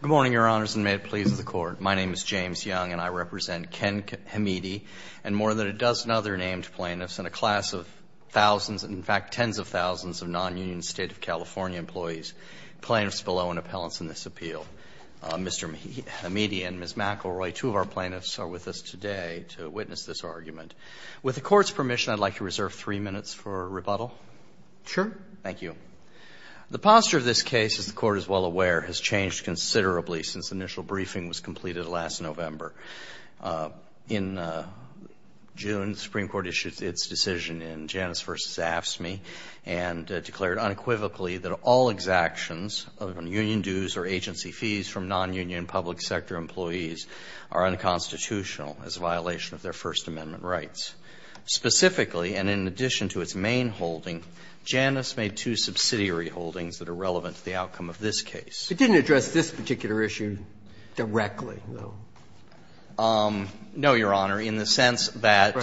Good morning, Your Honors, and may it please the Court. My name is James Young and I represent Ken Hamidi and more than a dozen other named plaintiffs in a class of thousands, in fact tens of thousands, of non-union State of California employees, plaintiffs below in appellants in this appeal. Mr. Hamidi and Ms. McElroy, two of our plaintiffs, are with us today to witness this argument. With the Court's permission, I'd like to reserve three minutes for rebuttal. Sure. Thank you. The posture of this case, as the Court is well aware, has changed considerably since the initial briefing was completed last November. In June, the Supreme Court issued its decision in Janus v. AFSCME and declared unequivocally that all exactions of union dues or agency fees from non-union public sector employees are unconstitutional as a violation of their First Amendment rights. Specifically, and in addition to its main holding, Janus made two subsidiary holdings that are relevant to the outcome of this case. It didn't address this particular issue directly, though? No, Your Honor, in the sense that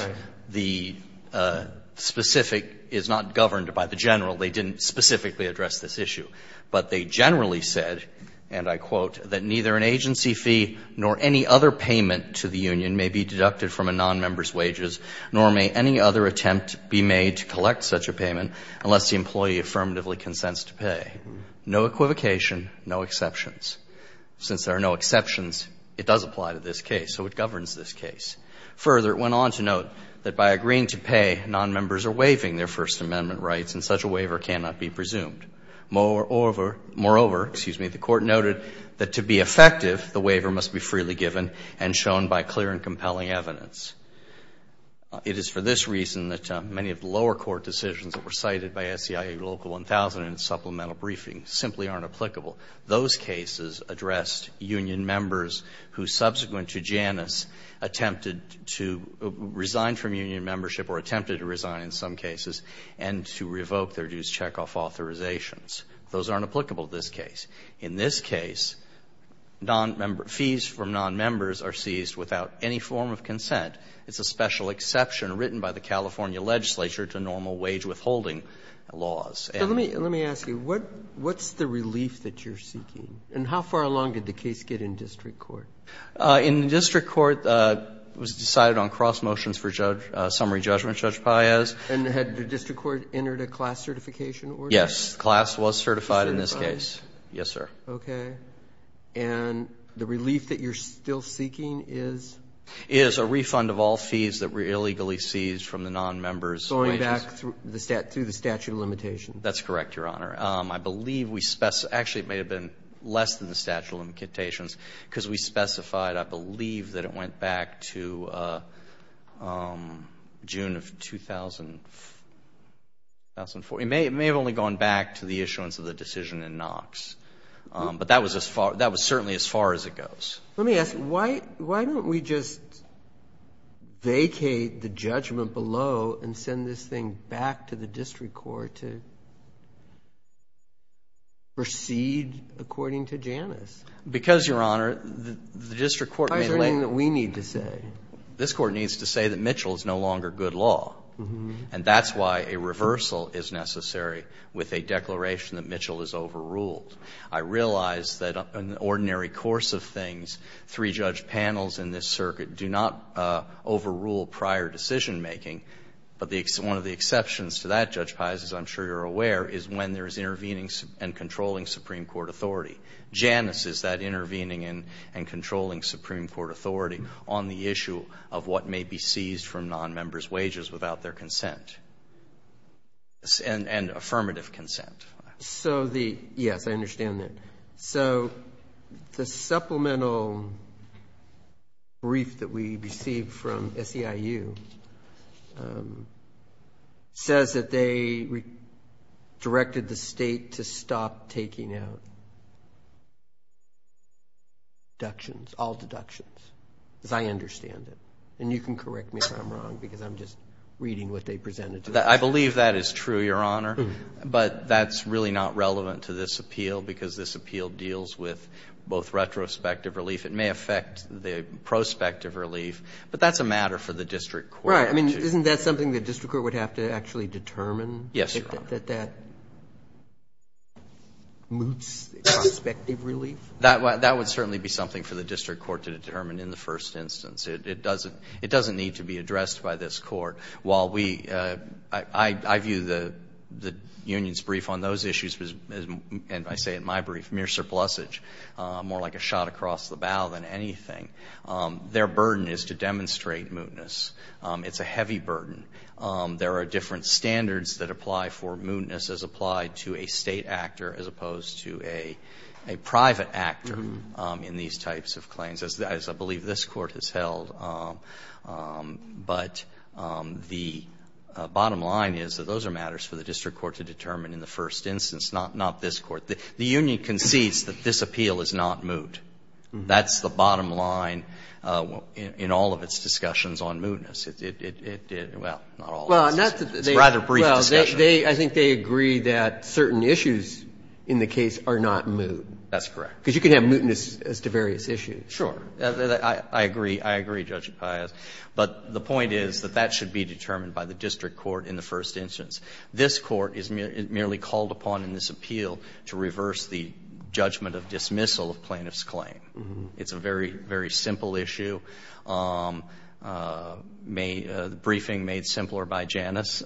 the specific is not governed by the general. They didn't specifically address this issue. But they generally said, and I quote, Since there are no exceptions, it does apply to this case, so it governs this case. Further, it went on to note that by agreeing to pay, nonmembers are waiving their First Amendment rights, and such a waiver cannot be presumed. Moreover, the Court noted that to be effective, the waiver must be freely given and shown by clear and compelling evidence. It is for this reason that many of the lower court decisions that were cited by SCIA Local 1000 in its supplemental briefing simply aren't applicable. Those cases addressed union members who, subsequent to Janus, attempted to resign from union membership or attempted to resign in some cases and to revoke their dues to check off authorizations. Those aren't applicable to this case. In this case, fees from nonmembers are seized without any form of consent. It's a special exception written by the California legislature to normal wage withholding laws. So let me ask you, what's the relief that you're seeking? And how far along did the case get in district court? In district court, it was decided on cross motions for summary judgment, Judge Paez. And had the district court entered a class certification order? Yes, class was certified in this case. Yes, sir. Okay. And the relief that you're still seeking is? Is a refund of all fees that were illegally seized from the nonmembers' wages. Going back through the statute of limitations. That's correct, Your Honor. I believe we, actually it may have been less than the statute of limitations because we specified, I believe, that it went back to June of 2000. It may have only gone back to the issuance of the decision in Knox. But that was certainly as far as it goes. Let me ask, why don't we just vacate the judgment below and send this thing back to the district court to proceed according to Janus? Because, Your Honor, the district court may later. Why is there anything that we need to say? This Court needs to say that Mitchell is no longer good law. And that's why a reversal is necessary with a declaration that Mitchell is overruled. I realize that in the ordinary course of things, three judge panels in this circuit do not overrule prior decision making. But one of the exceptions to that, Judge Paez, as I'm sure you're aware, is when there is intervening and controlling Supreme Court authority. Janus is that intervening and controlling Supreme Court authority on the issue of what may be seized from non-members' wages without their consent and affirmative consent. So the, yes, I understand that. So the supplemental brief that we received from SEIU says that they directed the state to stop taking out deductions, all deductions. Because I understand it. And you can correct me if I'm wrong because I'm just reading what they presented to us. I believe that is true, Your Honor. But that's really not relevant to this appeal because this appeal deals with both retrospective relief. It may affect the prospective relief. But that's a matter for the district court. Right. I mean, isn't that something the district court would have to actually determine? Yes, Your Honor. That that moots prospective relief? That would certainly be something for the district court to determine in the first instance. It doesn't need to be addressed by this court. While we, I view the union's brief on those issues, and I say it in my brief, mere surplusage, more like a shot across the bow than anything. Their burden is to demonstrate mootness. It's a heavy burden. There are different standards that apply for mootness as applied to a state actor as opposed to a private actor in these types of claims, as I believe this court has held. But the bottom line is that those are matters for the district court to determine in the first instance, not this court. The union concedes that this appeal is not moot. That's the bottom line in all of its discussions on mootness. Well, not all. It's a rather brief discussion. Well, I think they agree that certain issues in the case are not moot. That's correct. Because you can have mootness as to various issues. Sure. I agree. I agree, Judge Paius. But the point is that that should be determined by the district court in the first instance. This court is merely called upon in this appeal to reverse the judgment of dismissal of plaintiff's claim. It's a very, very simple issue. The briefing made simpler by Janus.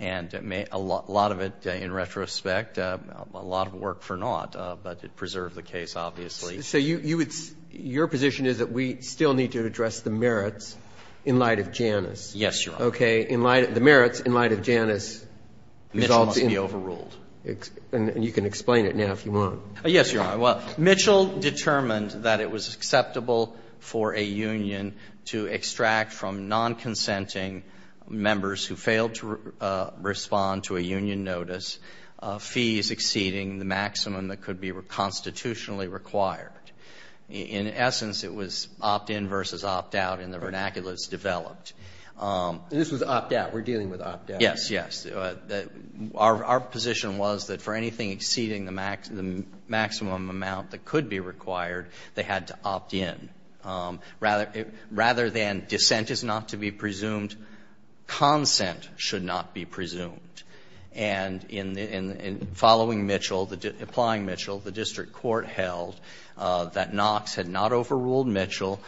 And a lot of it, in retrospect, a lot of work for Nott. But it preserved the case, obviously. So your position is that we still need to address the merits in light of Janus. Yes, Your Honor. Okay. The merits in light of Janus. This must be overruled. And you can explain it now if you want. Yes, Your Honor. Well, Mitchell determined that it was acceptable for a union to extract from non-consenting members who failed to respond to a union notice fees exceeding the maximum that could be constitutionally required. In essence, it was opt-in versus opt-out in the vernaculars developed. This was opt-out. We're dealing with opt-out. Yes, yes. Our position was that for anything exceeding the maximum amount that could be required, they had to opt-in. Rather than dissent is not to be presumed, consent should not be presumed. And following Mitchell, applying Mitchell, the district court held that Knox had not overruled Mitchell,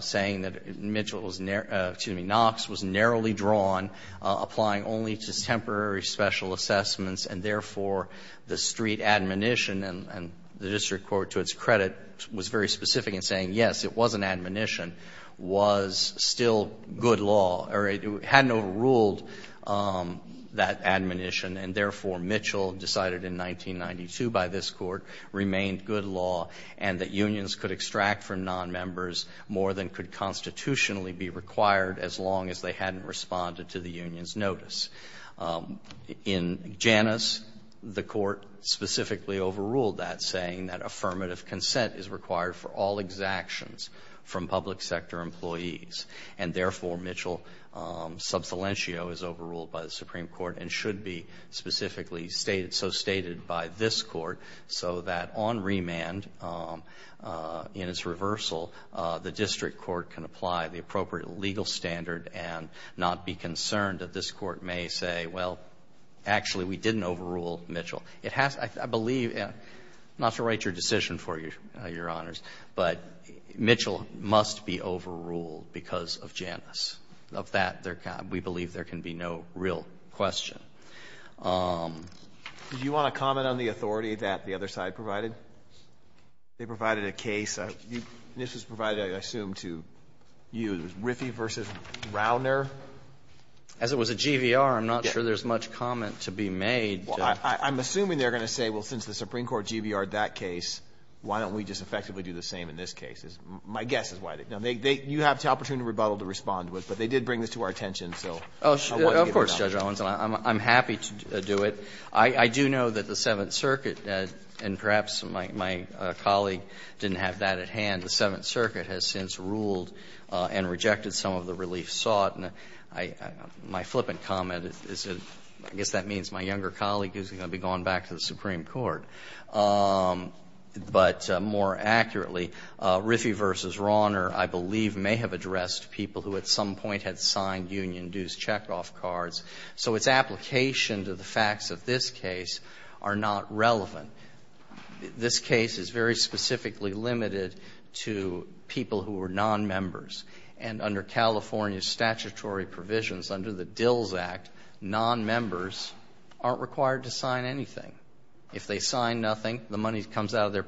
saying that Knox was narrowly drawn, applying only to temporary special assessments, and therefore the street admonition, and the district court to its credit was very specific in saying, yes, it was an admonition, was still good law, or it hadn't overruled that admonition, and therefore Mitchell decided in 1992 by this court, remained good law, and that unions could extract from non-members more than could constitutionally be required as long as they hadn't responded to the union's notice. In Janus, the court specifically overruled that, saying that affirmative consent is required for all exactions from public sector employees, and therefore Mitchell sub salientio is overruled by the Supreme Court and should be specifically so stated by this court so that on remand, in its reversal, the district court can apply the concern that this court may say, well, actually, we didn't overrule Mitchell. I believe, not to write your decision for you, Your Honors, but Mitchell must be overruled because of Janus. Of that, we believe there can be no real question. Do you want to comment on the authority that the other side provided? They provided a case. This was provided, I assume, to you. It was Riffey versus Rauner. As it was a GVR, I'm not sure there's much comment to be made. I'm assuming they're going to say, well, since the Supreme Court GVR'd that case, why don't we just effectively do the same in this case? My guess is why. You have the opportunity to rebuttal to respond to it, but they did bring this to our attention, so I wanted to get it out. I'm happy to do it. I do know that the Seventh Circuit, and perhaps my colleague didn't have that at hand, the Seventh Circuit has since ruled and rejected some of the relief sought. My flippant comment is, I guess that means my younger colleague is going to be going back to the Supreme Court. But more accurately, Riffey versus Rauner, I believe, may have addressed people who at some point had signed union dues checkoff cards. So its application to the facts of this case are not relevant. This case is very specifically limited to people who are non-members. And under California statutory provisions, under the DILS Act, non-members aren't required to sign anything. If they sign nothing, the money comes out of their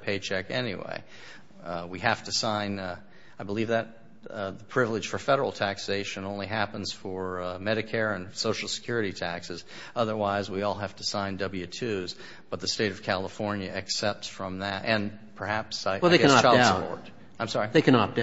I believe that the privilege for Federal taxation only happens for Medicare and Social Security taxes. Otherwise, we all have to sign W-2s. But the State of California accepts from that, and perhaps I guess child support. Well, they can opt out. I'm sorry? They can opt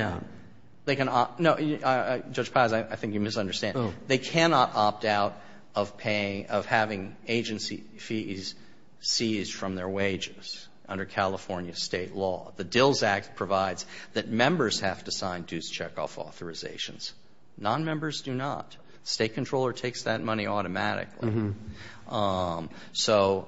out. No, Judge Paz, I think you misunderstand. Oh. They cannot opt out of paying, of having agency fees seized from their wages under California State law. The DILS Act provides that members have to sign dues checkoff authorizations. Non-members do not. State controller takes that money automatically. So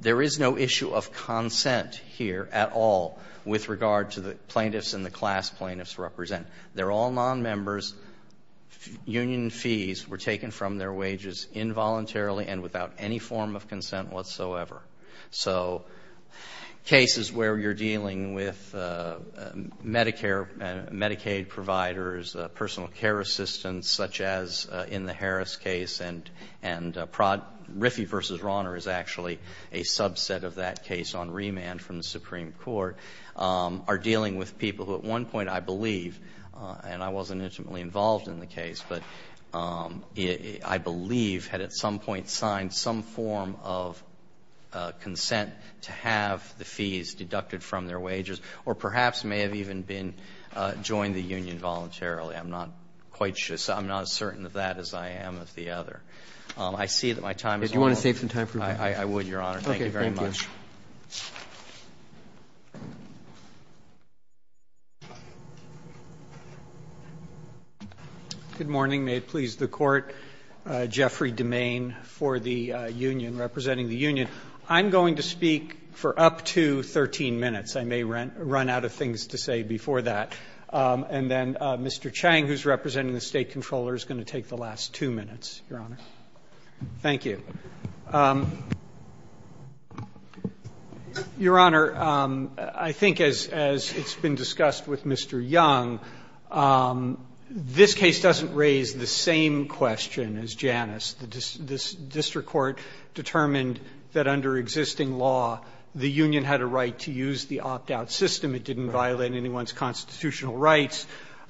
there is no issue of consent here at all with regard to the plaintiffs and the class plaintiffs represent. They're all non-members. Union fees were taken from their wages involuntarily and without any form of consent whatsoever. So cases where you're dealing with Medicare, Medicaid providers, personal care assistance, such as in the Harris case, and Riffey v. Rauner is actually a subset of that case on remand from the Supreme Court, are dealing with people who at one point, I believe, and I wasn't intimately involved in the case, but I believe had at some point signed some form of consent to have the fees deducted from their wages or perhaps may have even been joined the union voluntarily. I'm not quite sure. I'm not as certain of that as I am of the other. I see that my time is over. Do you want to save some time for questions? Okay. Thank you. Good morning. May it please the Court. Jeffrey DeMaine for the union, representing the union. I'm going to speak for up to 13 minutes. I may run out of things to say before that. And then Mr. Chang, who's representing the State Comptroller, is going to take the last two minutes, Your Honor. Thank you. Your Honor, I think as it's been discussed with Mr. Young, this case doesn't raise the same question as Janus. The district court determined that under existing law, the union had a right to use the opt-out system. It didn't violate anyone's constitutional rights.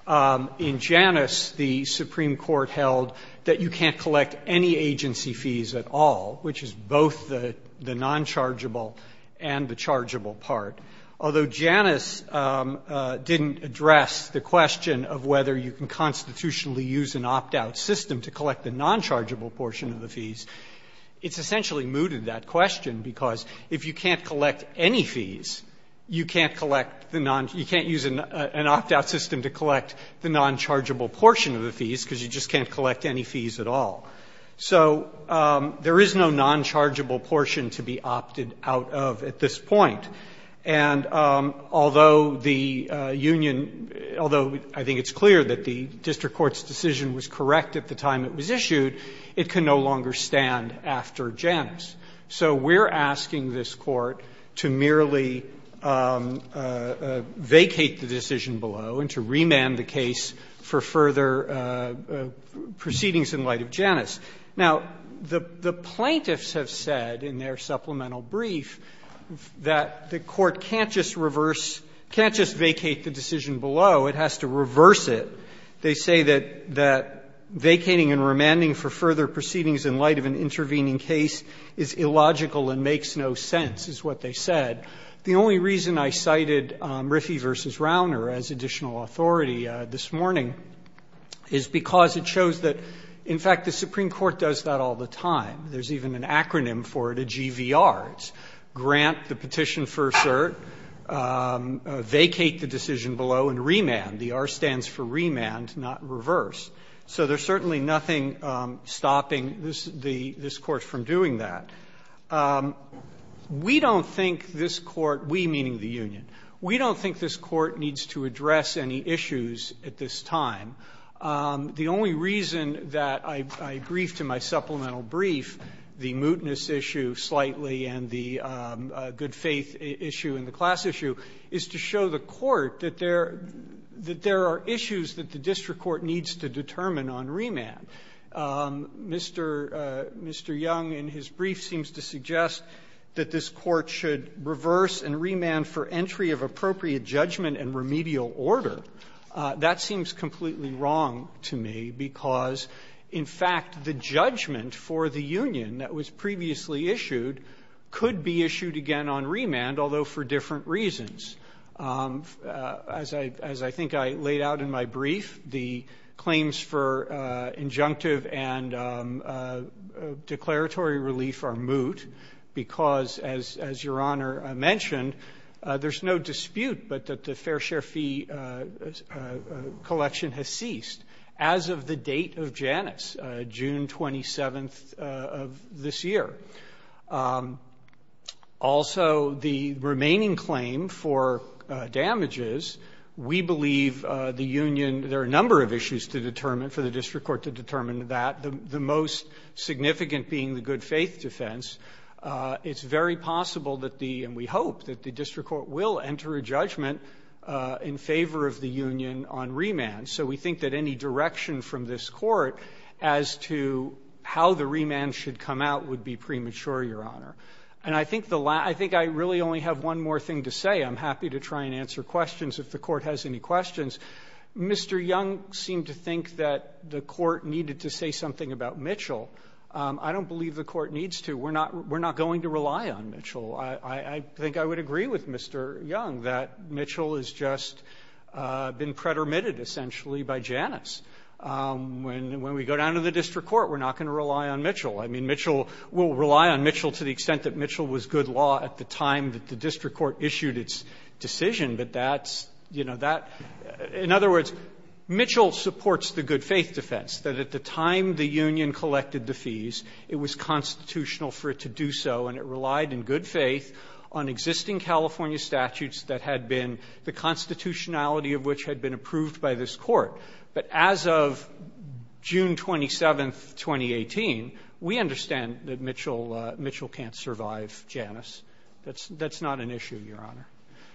In Janus, the Supreme Court held that you can't collect any agency fees at all. Which is both the nonchargeable and the chargeable part. Although Janus didn't address the question of whether you can constitutionally use an opt-out system to collect the nonchargeable portion of the fees, it's essentially mooted, that question, because if you can't collect any fees, you can't collect the non you can't use an opt-out system to collect the nonchargeable portion of the fees because you just can't collect any fees at all. So there is no nonchargeable portion to be opted out of at this point. And although the union, although I think it's clear that the district court's decision was correct at the time it was issued, it can no longer stand after Janus. So we're asking this Court to merely vacate the decision below and to remand the case for further proceedings in light of Janus. Now, the plaintiffs have said in their supplemental brief that the Court can't just reverse, can't just vacate the decision below, it has to reverse it. They say that vacating and remanding for further proceedings in light of an intervening case is illogical and makes no sense, is what they said. The only reason I cited Riffey v. Rauner as additional authority this morning is because it shows that, in fact, the Supreme Court does that all the time. There's even an acronym for it, a GVR. It's grant the petition for cert, vacate the decision below, and remand. The R stands for remand, not reverse. So there's certainly nothing stopping this Court from doing that. We don't think this Court, we meaning the union, we don't think this Court needs to address any issues at this time. The only reason that I briefed in my supplemental brief the mootness issue slightly and the good faith issue and the class issue is to show the Court that there are issues Mr. Young, in his brief, seems to suggest that this Court should reverse and remand for entry of appropriate judgment and remedial order. That seems completely wrong to me because, in fact, the judgment for the union that was previously issued could be issued again on remand, although for different reasons. As I think I laid out in my brief, the claims for injunctive and declaratory relief are moot because, as Your Honor mentioned, there's no dispute but that the fair share fee collection has ceased as of the date of Janus, June 27th of this year. Also, the remaining claim for damages, we believe the union, there are a number of issues to determine, for the district court to determine that. The most significant being the good faith defense. It's very possible that the, and we hope, that the district court will enter a judgment in favor of the union on remand. So we think that any direction from this Court as to how the remand should come out would be premature, Your Honor. And I think I really only have one more thing to say. I'm happy to try and answer questions if the Court has any questions. Mr. Young seemed to think that the Court needed to say something about Mitchell. I don't believe the Court needs to. We're not going to rely on Mitchell. I think I would agree with Mr. Young that Mitchell has just been pretermitted, essentially, by Janus. I mean, Mitchell, we'll rely on Mitchell to the extent that Mitchell was good law at the time that the district court issued its decision, but that's, you know, that In other words, Mitchell supports the good faith defense, that at the time the union collected the fees, it was constitutional for it to do so and it relied in good faith on existing California statutes that had been, the constitutionality of which had been approved by this Court. But as of June 27, 2018, we understand that Mitchell can't survive Janus. That's not an issue, Your Honor.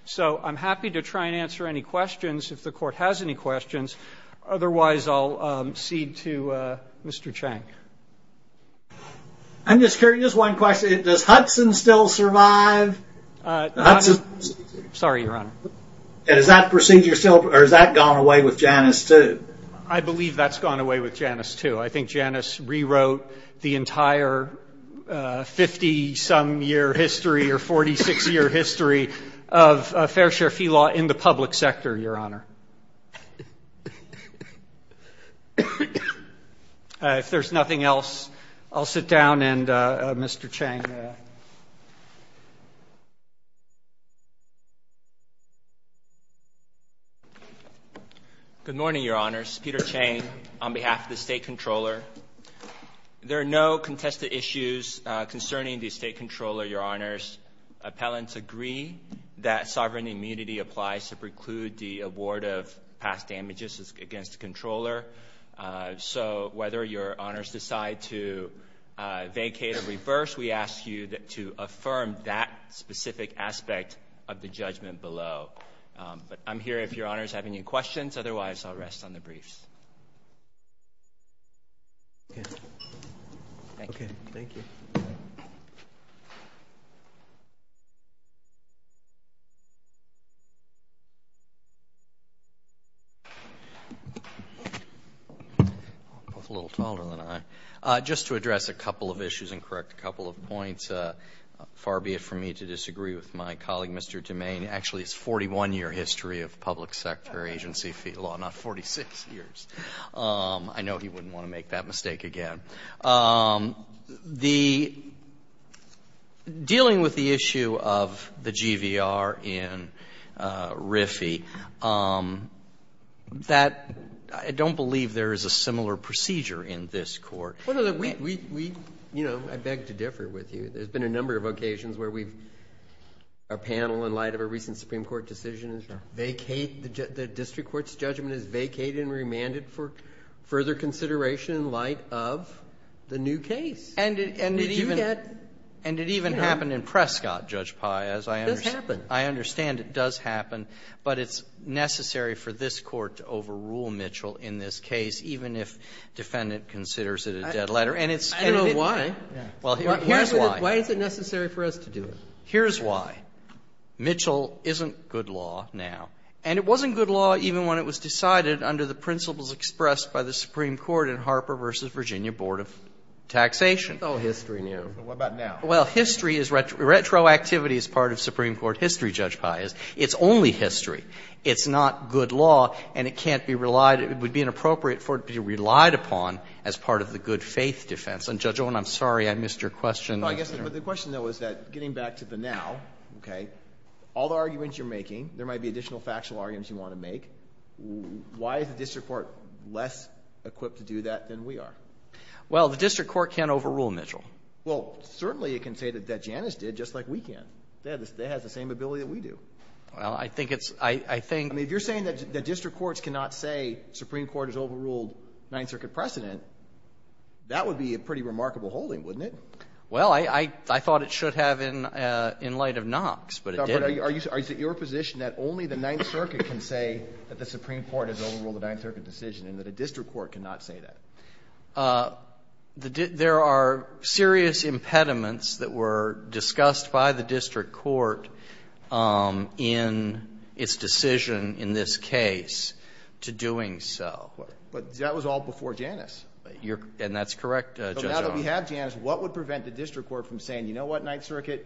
So I'm happy to try and answer any questions if the Court has any questions. Otherwise, I'll cede to Mr. Chang. I'm just curious, one question. Does Hudson still survive? Sorry, Your Honor. Has that procedure still, or has that gone away with Janus, too? I believe that's gone away with Janus, too. I think Janus rewrote the entire 50-some year history or 46-year history of fair share fee law in the public sector, Your Honor. If there's nothing else, I'll sit down and Mr. Chang. Good morning, Your Honors. Peter Chang on behalf of the State Comptroller. There are no contested issues concerning the State Comptroller, Your Honors. Appellants agree that sovereign immunity applies to preclude the award of past damages against the Comptroller. So whether Your Honors decide to vacate or reverse, we ask you to affirm that specific aspect of the judgment below. But I'm here if Your Honors have any questions. Otherwise, I'll rest on the briefs. Okay. Thank you. Okay. Thank you. Both a little taller than I. Just to address a couple of issues and correct a couple of points, far be it for me to disagree with my colleague, Mr. DeMaine. Actually, it's 41-year history of public sector agency fee law, not 46 years. I know he wouldn't want to make that mistake again. Dealing with the issue of the GVR in RIFI, I don't believe there is a similar procedure in this court. I beg to differ with you. There's been a number of occasions where we've, our panel in light of a recent Supreme Court decision vacate, the district court's judgment is vacated and remanded for further consideration in light of the new case. And it even happened in Prescott, Judge Pai. It does happen. I understand it does happen. But it's necessary for this court to overrule Mitchell in this case, even if defendant considers it a dead letter. I don't know why. Well, here's why. Why is it necessary for us to do it? Here's why. Mitchell isn't good law now. And it wasn't good law even when it was decided under the principles expressed by the Supreme Court in Harper v. Virginia Board of Taxation. Oh, history now. What about now? Well, history is retroactivity as part of Supreme Court history, Judge Pai. It's only history. It's not good law, and it can't be relied, it would be inappropriate for it to be relied upon as part of the good faith defense. And, Judge Owen, I'm sorry I missed your question. No, I guess the question, though, is that getting back to the now, okay, all the arguments you're making, there might be additional factual arguments you want to make. Why is the district court less equipped to do that than we are? Well, the district court can't overrule Mitchell. Well, certainly it can say that Janus did, just like we can. They have the same ability that we do. Well, I think it's — I think — I mean, if you're saying that district courts cannot say Supreme Court has overruled the Ninth Circuit precedent, that would be a pretty remarkable holding, wouldn't it? Well, I thought it should have in light of Knox, but it didn't. Are you — is it your position that only the Ninth Circuit can say that the Supreme Court has overruled the Ninth Circuit decision and that a district court cannot say that? There are serious impediments that were discussed by the district court in its decision in this case to doing so. But that was all before Janus. And that's correct, Judge Jones. But now that we have Janus, what would prevent the district court from saying, you know what, Ninth Circuit,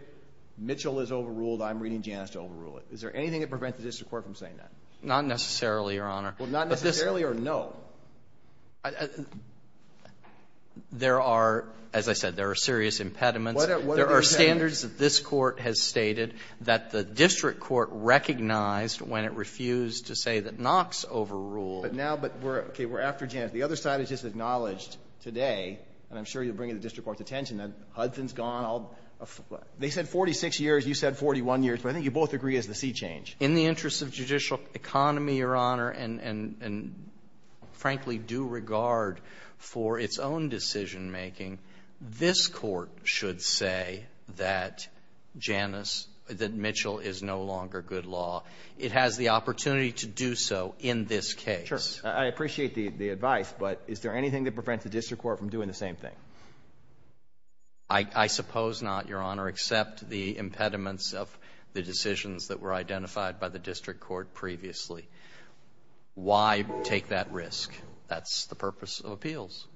Mitchell is overruled. I'm reading Janus to overrule it. Is there anything that prevents the district court from saying that? Not necessarily, Your Honor. Well, not necessarily or no? There are, as I said, there are serious impediments. What are those impediments? There are standards that this Court has stated that the district court recognized when it refused to say that Knox overruled. But now — but we're — okay, we're after Janus. The other side has just acknowledged today, and I'm sure you'll bring it to the district court's attention, that Hudson's gone all — they said 46 years. You said 41 years. But I think you both agree it's the sea change. In the interest of judicial economy, Your Honor, and, frankly, due regard for its own decisionmaking, this Court should say that Janus — that Mitchell is no longer good law. It has the opportunity to do so in this case. Sure. I appreciate the advice, but is there anything that prevents the district court from doing the same thing? I suppose not, Your Honor, except the impediments of the decisions that were identified by the district court previously. Why take that risk? That's the purpose of appeals.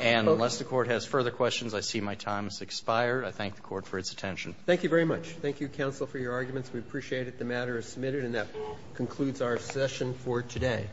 And unless the Court has further questions, I see my time has expired. I thank the Court for its attention. Thank you very much. Thank you, counsel, for your arguments. We appreciate it. The matter is submitted, and that concludes our session for today.